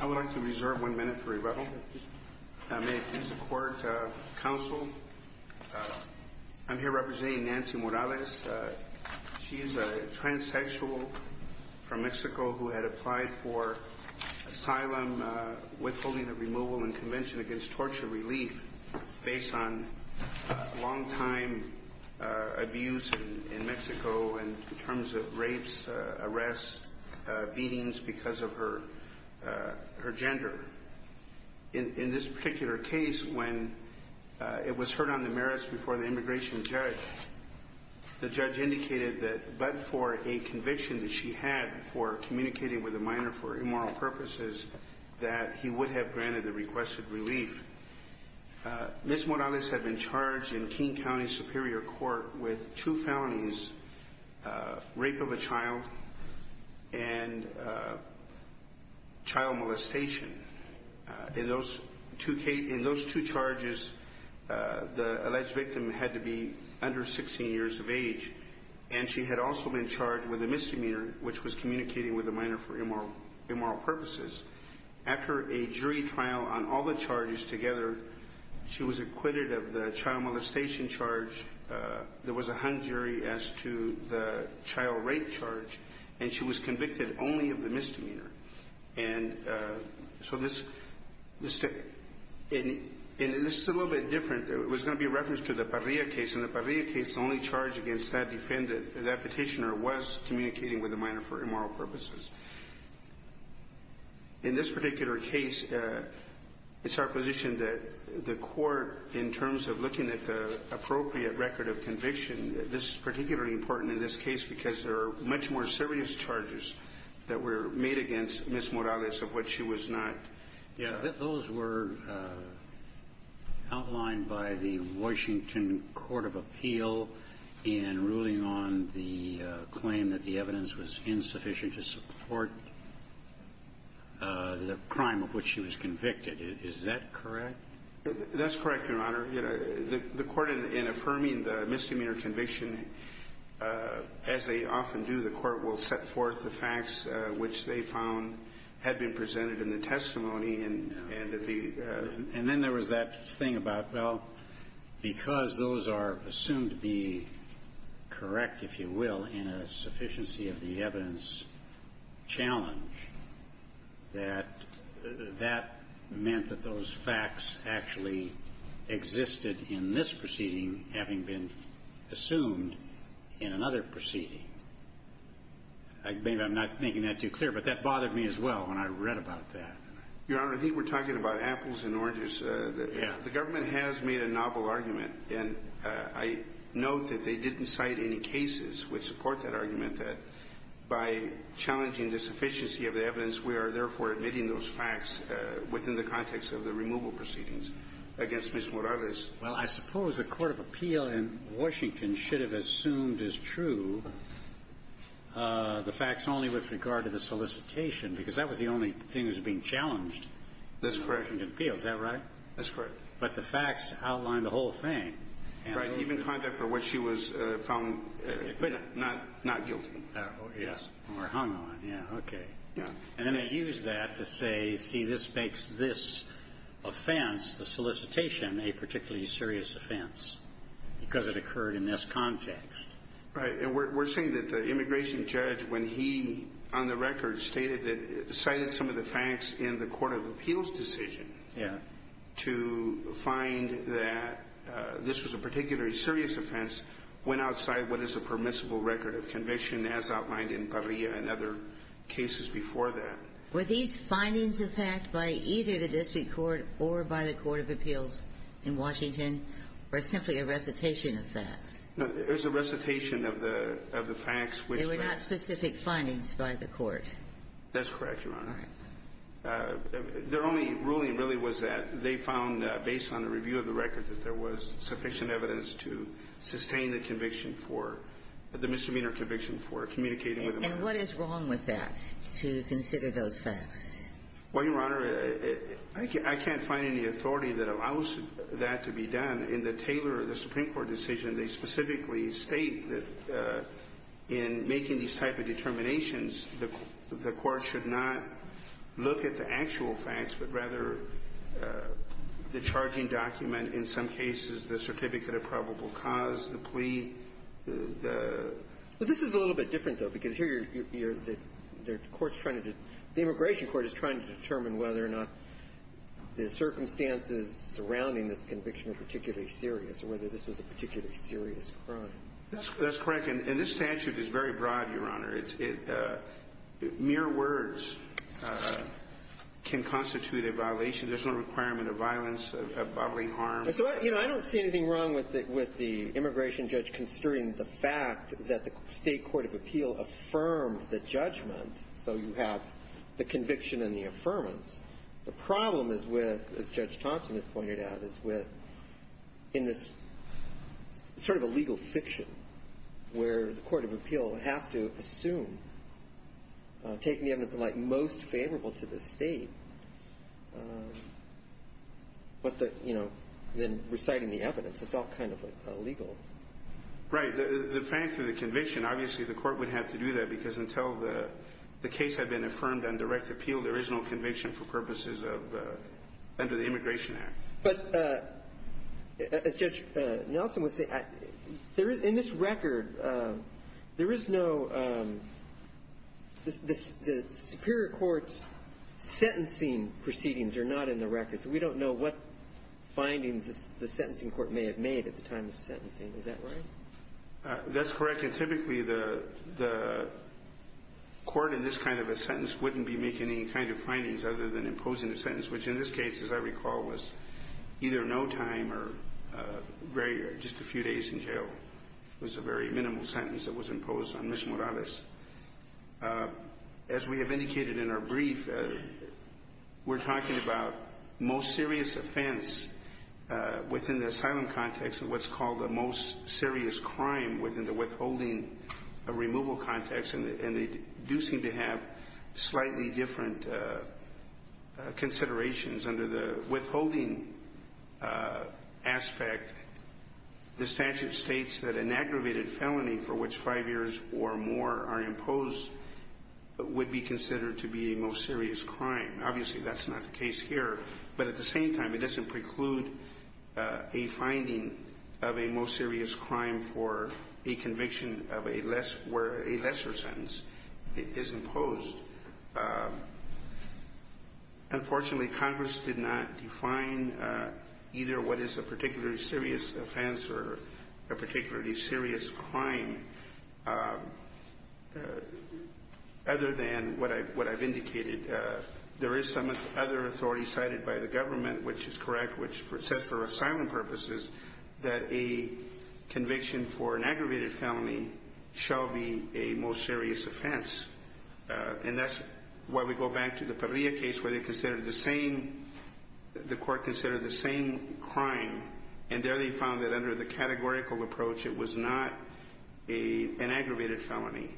I would like to reserve one minute for rebuttal. I'm here representing Nancy Morales. She is a transsexual from Mexico who had applied for asylum, withholding of removal and convention against torture relief based on long time abuse in Mexico in terms of rapes, arrests, beatings because of her gender. In this particular case, when it was heard on the merits before the immigration judge, the judge indicated that but for a conviction that she had for communicating with a minor for immoral purposes, that he would have granted the requested relief. Ms. Morales had been charged in King County Superior Court with two felonies, rape of a child and child molestation. In those two charges, the alleged victim had to be under 16 years of age and she had also been charged with a misdemeanor which was communicating with a minor for immoral purposes. After a jury trial on all the charges together, she was acquitted of the child molestation charge, there was a hung jury as to the child rape charge and she was convicted only of the misdemeanor. In this particular case, it's our position that the court in terms of looking at the appropriate record of conviction, this is particularly important in this case because there are much more serious charges that were made against Ms. Morales in this particular case. Those were outlined by the Washington Court of Appeal in ruling on the claim that the evidence was insufficient to support the crime of which she was convicted. Is that correct? That's correct, Your Honor. The court, in affirming the misdemeanor conviction, as they often do, the court will set forth the facts which they found had been presented in the testimony and that the… And then there was that thing about, well, because those are assumed to be correct, if you will, in a sufficiency of the evidence challenge, that that meant that those facts actually existed in this proceeding having been assumed in another proceeding. I'm not making that too clear, but that bothered me as well when I read about that. Your Honor, I think we're talking about apples and oranges. Yeah. The government has made a novel argument, and I note that they didn't cite any cases which support that argument that by challenging the sufficiency of the evidence, we are therefore admitting those facts within the context of the removal proceedings against Ms. Morales. Well, I suppose the Court of Appeal in Washington should have assumed as true the facts only with regard to the solicitation, because that was the only thing that was being challenged. That's correct. Is that right? That's correct. But the facts outlined the whole thing. Right. Even conduct for which she was found not guilty. Yes. Or hung on. Yeah. Okay. Yeah. And then they used that to say, see, this makes this offense, the solicitation, a particularly serious offense because it occurred in this context. Right. And we're saying that the immigration judge, when he, on the record, cited some of the facts in the Court of Appeal's decision to find that this was a particularly serious offense, went outside what is a permissible record of conviction, as outlined in Parrilla and other cases before that. Were these findings of fact by either the district court or by the Court of Appeals in Washington, or simply a recitation of facts? No, it was a recitation of the facts which were not specific findings by the court. That's correct, Your Honor. All right. Their only ruling really was that they found, based on the review of the record, that there was sufficient evidence to sustain the conviction for the misdemeanor conviction for communicating with a minor. And what is wrong with that, to consider those facts? Well, Your Honor, I can't find any authority that allows that to be done. In the Taylor or the Supreme Court decision, they specifically state that in making these type of determinations, the court should not look at the actual facts, but rather the charging document, in some cases the certificate of probable cause, the plea, the ---- Well, this is a little bit different, though, because here you're the court's trying to ---- the immigration court is trying to determine whether or not the circumstances surrounding this conviction are particularly serious, or whether this was a particularly serious crime. That's correct. And this statute is very broad, Your Honor. It's ---- mere words can constitute a violation. There's no requirement of violence, of bodily harm. So, you know, I don't see anything wrong with the immigration judge considering the fact that the state court of appeal affirmed the judgment, so you have the conviction and the affirmance. The problem is with, as Judge Thompson has pointed out, is with, in this sort of a legal fiction, where the court of appeal has to assume, taking the evidence of like most favorable to the state, but the, you know, then reciting the evidence, it's all kind of illegal. Right. The fact of the conviction, obviously the court would have to do that, because until the case had been affirmed on direct appeal, there is no conviction for purposes of under the Immigration Act. But, as Judge Nelson was saying, there is, in this record, there is no ---- the superior court's sentencing proceedings are not in the record. So we don't know what findings the sentencing court may have made at the time of sentencing. Is that right? That's correct. And typically, the court in this kind of a sentence wouldn't be making any kind of findings other than imposing a sentence, which in this case, as I recall, was either no time or very ---- just a few days in jail. It was a very minimal sentence that was imposed on Ms. Morales. As we have indicated in our brief, we're talking about most serious offense within the asylum context and what's called the most serious crime within the withholding removal context. And they do seem to have slightly different considerations under the withholding aspect. The statute states that an aggravated felony for which five years or more are imposed would be considered to be a most serious crime. Obviously, that's not the case here. But at the same time, it doesn't preclude a finding of a most serious crime for a conviction of a less ---- where a lesser sentence is imposed. Unfortunately, Congress did not define either what is a particularly serious offense or a particularly serious crime other than what I've indicated. There is some other authority cited by the government, which is correct, which says for asylum purposes that a conviction for an aggravated felony shall be a most serious offense. And that's why we go back to the Parrilla case where they considered the same ---- the court considered the same crime. And there they found that under the categorical approach, it was not an aggravated felony.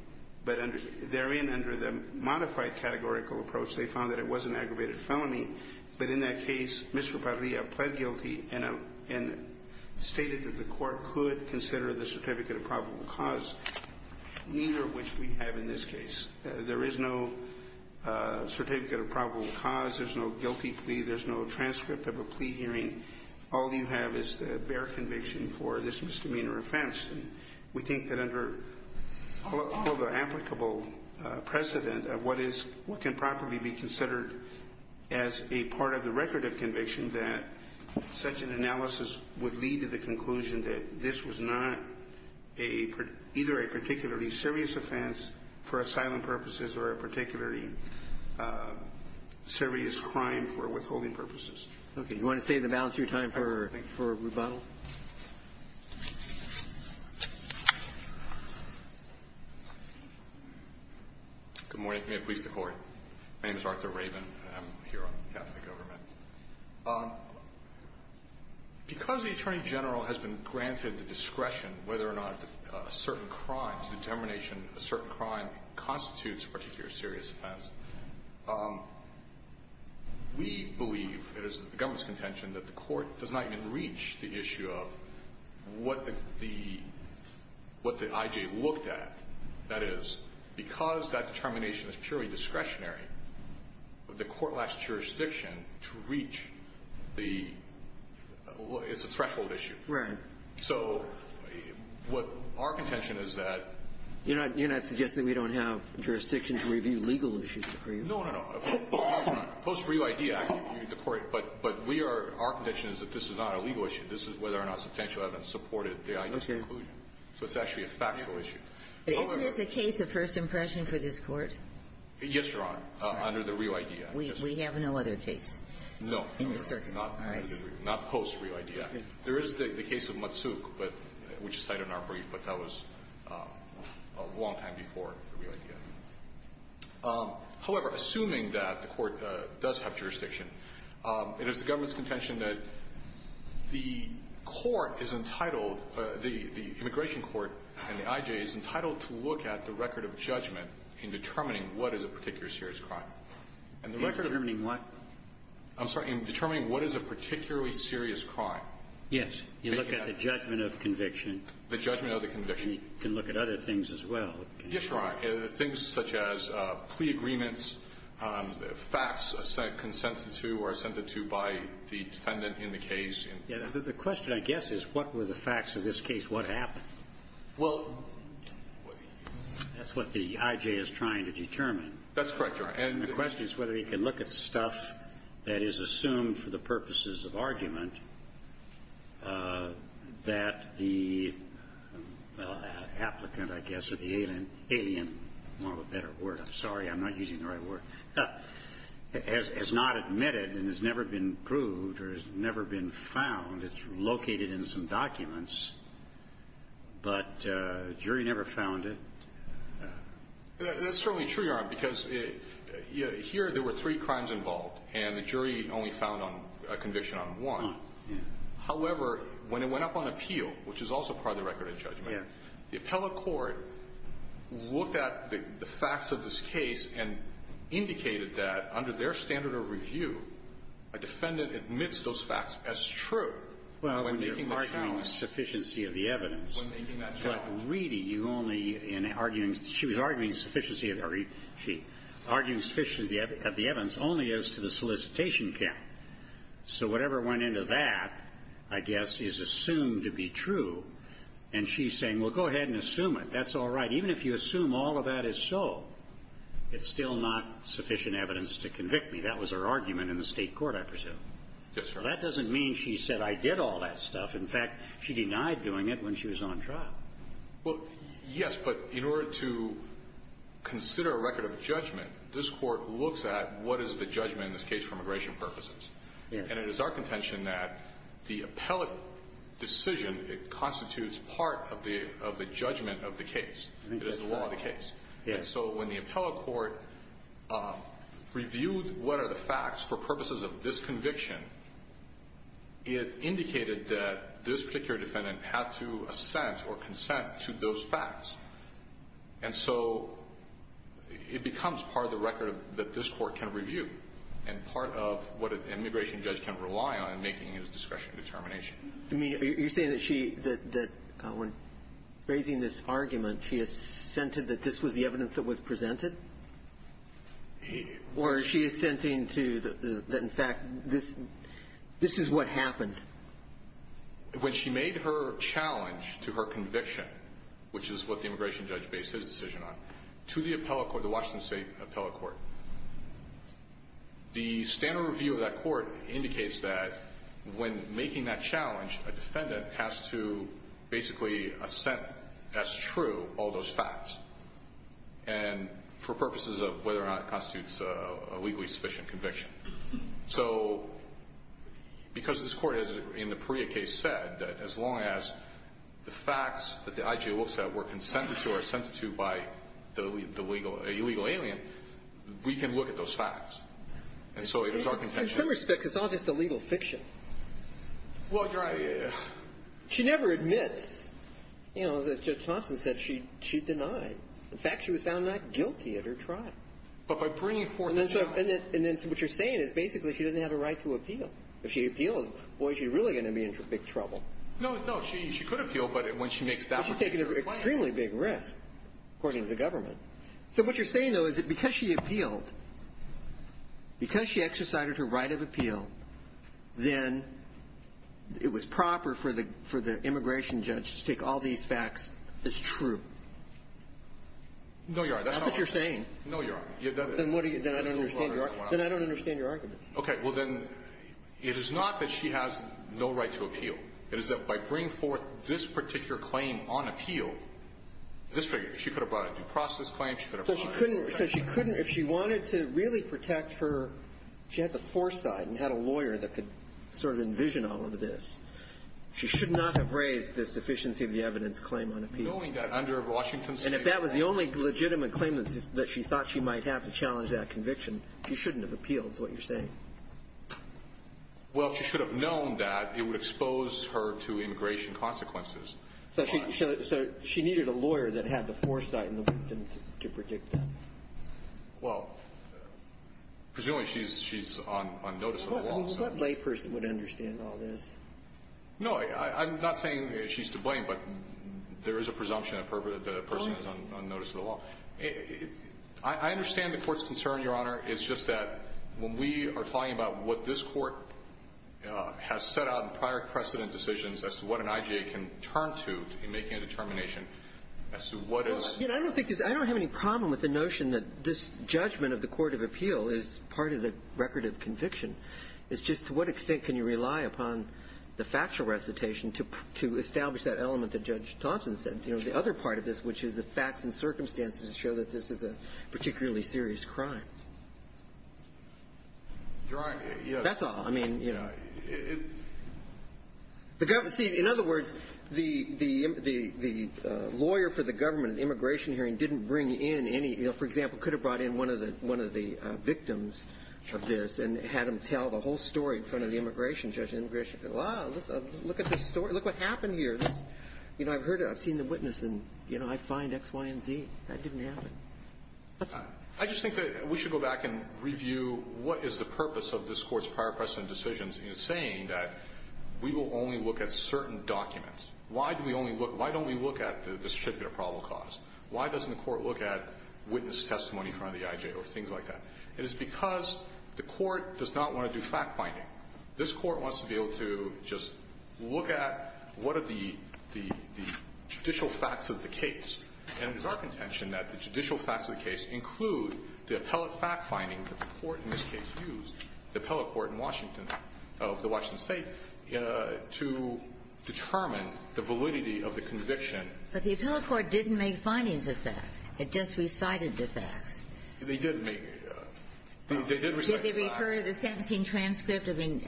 But therein, under the modified categorical approach, they found that it was an aggravated felony. But in that case, Mr. Parrilla pled guilty and stated that the court could consider the certificate of probable cause, neither of which we have in this case. There is no certificate of probable cause. There's no guilty plea. There's no transcript of a plea hearing. All you have is the bare conviction for this misdemeanor offense. And we think that under all of the applicable precedent of what is ---- what can properly be considered as a part of the record of conviction, that such an analysis would lead to the conclusion that this was not a ---- either a particularly serious offense for asylum purposes or a particularly serious crime for withholding purposes. Okay. Do you want to save the balance of your time for rebuttal? Good morning. May it please the Court. My name is Arthur Rabin. I'm here on behalf of the government. Because the Attorney General has been granted the discretion whether or not a certain crime, determination a certain crime constitutes a particularly serious offense, we believe, it is the government's contention, that the Court does not even reach the issue of what the ---- what the I.J. looked at. That is, because that determination is purely discretionary, the Court lacks jurisdiction to reach the ---- it's a threshold issue. Right. So what our contention is that ---- You're not suggesting that we don't have jurisdiction to review legal issues for you? No, no, no. Post-Reo I.D. Act, the Court ---- but we are ---- our contention is that this is not a legal issue. This is whether or not substantial evidence supported the I.J.'s conclusion. Okay. So it's actually a factual issue. Isn't this a case of first impression for this Court? Yes, Your Honor, under the Reo I.D. Act. We have no other case in the circuit. All right. Not post-Reo I.D. Act. There is the case of Matsuk, but ---- which is cited in our brief, but that was a long time before the Reo I.D. Act. However, assuming that the Court does have jurisdiction, it is the government's contention that the Court is entitled, the immigration court and the I.J. is entitled to look at the record of judgment in determining what is a particular serious crime. In determining what? I'm sorry. In determining what is a particularly serious crime. Yes. You look at the judgment of conviction. The judgment of the conviction. You can look at other things as well. Yes, Your Honor. Things such as plea agreements, facts consented to or assented to by the defendant in the case. The question, I guess, is what were the facts of this case? What happened? Well ---- That's what the I.J. is trying to determine. That's correct, Your Honor. And the question is whether he can look at stuff that is assumed for the purposes of argument that the applicant, I guess, or the alien, more of a better word. I'm sorry. I'm not using the right word. Has not admitted and has never been proved or has never been found. It's located in some documents. But the jury never found it. That's certainly true, Your Honor, because here there were three crimes involved and the jury only found a conviction on one. However, when it went up on appeal, which is also part of the record of judgment, the appellate court looked at the facts of this case and indicated that under their standard of review, a defendant admits those facts as true. Well, when you're arguing sufficiency of the evidence. When making that challenge. But really, you only, in arguing, she was arguing sufficiency of the evidence only as to the solicitation count. So whatever went into that, I guess, is assumed to be true. And she's saying, well, go ahead and assume it. That's all right. Even if you assume all of that is so, it's still not sufficient evidence to convict me. That was her argument in the State court, I presume. Yes, sir. That doesn't mean she said, I did all that stuff. In fact, she denied doing it when she was on trial. Well, yes. But in order to consider a record of judgment, this Court looks at what is the judgment in this case for immigration purposes. Yes. And it is our contention that the appellate decision, it constitutes part of the judgment of the case. It is the law of the case. Yes. And so when the appellate court reviewed what are the facts for purposes of this case, that this particular defendant had to assent or consent to those facts. And so it becomes part of the record that this Court can review and part of what an immigration judge can rely on in making his discretionary determination. I mean, are you saying that she, that when raising this argument, she assented that this was the evidence that was presented? Or is she assenting to the fact that this is what happened? When she made her challenge to her conviction, which is what the immigration judge based his decision on, to the appellate court, the Washington State appellate court, the standard review of that court indicates that when making that challenge, a defendant has to basically assent as true all those facts. And for purposes of whether or not it constitutes a legally sufficient conviction. So because this Court has, in the Perea case, said that as long as the facts that the IG looks at were consented to or assented to by the legal, illegal alien, we can look at those facts. And so it is our contention. In some respects, it's all just illegal fiction. Well, you're right. She never admits. You know, as Judge Thompson said, she denied. In fact, she was found not guilty of her trial. But by bringing forth the facts. And then what you're saying is basically she doesn't have a right to appeal. If she appeals, boy, she's really going to be in big trouble. No, no, she could appeal, but when she makes that particular claim. But she's taking an extremely big risk, according to the government. So what you're saying, though, is that because she appealed, because she exercised her right of appeal, then it was proper for the immigration judge to take all these facts as true. No, Your Honor, that's not what I'm saying. That's what you're saying. No, Your Honor. Then I don't understand your argument. Then I don't understand your argument. Okay. Well, then, it is not that she has no right to appeal. It is that by bringing forth this particular claim on appeal, this figure, she could have brought a due process claim. She could have brought a due process claim. So she couldn't, if she wanted to really protect her, she had the foresight and had a lawyer that could sort of envision all of this. She should not have raised the sufficiency of the evidence claim on appeal. Knowing that under Washington State. And if that was the only legitimate claim that she thought she might have to challenge that conviction, she shouldn't have appealed is what you're saying. Well, if she should have known that, it would expose her to immigration consequences. So she needed a lawyer that had the foresight and the wisdom to predict that. Well, presumably she's on notice of the law. What layperson would understand all this? No, I'm not saying she's to blame, but there is a presumption that a person is on notice of the law. I understand the Court's concern, Your Honor, it's just that when we are talking about what this Court has set out in prior precedent decisions as to what an IJA can turn to in making a determination as to what is the case. I don't have any problem with the notion that this judgment of the court of appeal is part of the record of conviction. It's just to what extent can you rely upon the factual recitation to establish that element that Judge Thompson said. The other part of this, which is the facts and circumstances show that this is a particularly serious crime. That's all. I mean, you know. See, in other words, the lawyer for the government at the immigration hearing didn't bring in any, you know, for example, could have brought in one of the victims of this and had them tell the whole story in front of the immigration judge. Look at this story. Look what happened here. You know, I've heard it. I've seen the witness, and, you know, I find X, Y, and Z. That didn't happen. That's all. I just think that we should go back and review what is the purpose of this Court's prior precedent decisions in saying that we will only look at certain documents. Why do we only look at the distributor probable cause? Why doesn't the Court look at witness testimony in front of the IJA or things like It is because the Court does not want to do fact-finding. This Court wants to be able to just look at what are the judicial facts of the case. And it is our contention that the judicial facts of the case include the appellate fact-finding that the Court in this case used, the appellate court in Washington of the Washington State, to determine the validity of the conviction. But the appellate court didn't make findings of that. It just recited the facts. They did make the facts. They did recite the facts. Did they refer to the sentencing transcript? I mean,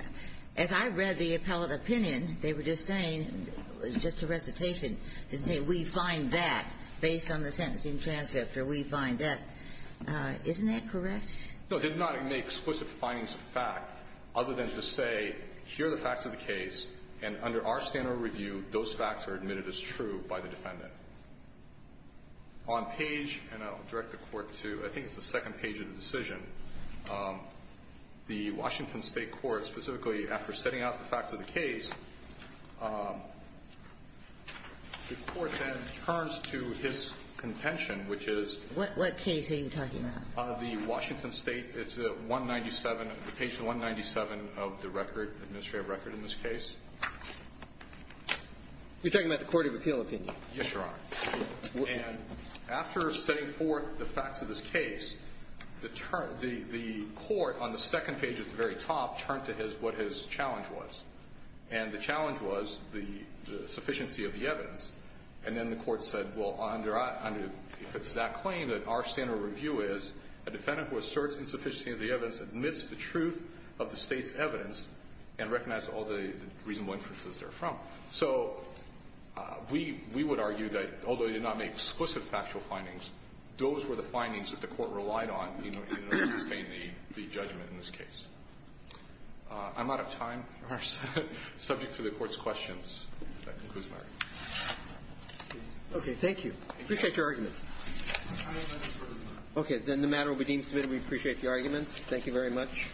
as I read the appellate opinion, they were just saying, just a recitation, didn't say we find that based on the sentencing transcript or we find that. Isn't that correct? No, it did not make explicit findings of fact other than to say, here are the facts of the case, and under our standard review, those facts are admitted as true by the defendant. On page, and I'll direct the Court to, I think it's the second page of the decision, the Washington State court specifically, after setting out the facts of the case, the Court then turns to his contention, which is the Washington State. What case are you talking about? It's the 197, page 197 of the record, administrative record in this case. You're talking about the court of appeal opinion? Yes, Your Honor. And after setting forth the facts of this case, the Court, on the second page at the very top, turned to what his challenge was. And the challenge was the sufficiency of the evidence. And then the Court said, well, if it's that claim that our standard review is, a defendant who asserts insufficiency of the evidence admits the truth of the State's evidence and recognizes all the reasonable inferences therefrom. So we would argue that, although he did not make explicit factual findings, those were the findings that the Court relied on in order to sustain the judgment in this case. I'm out of time. Our subjects are the Court's questions. That concludes my argument. Okay. Thank you. I appreciate your arguments. Okay. Then the matter will be deemed submitted. We appreciate the arguments. Thank you very much.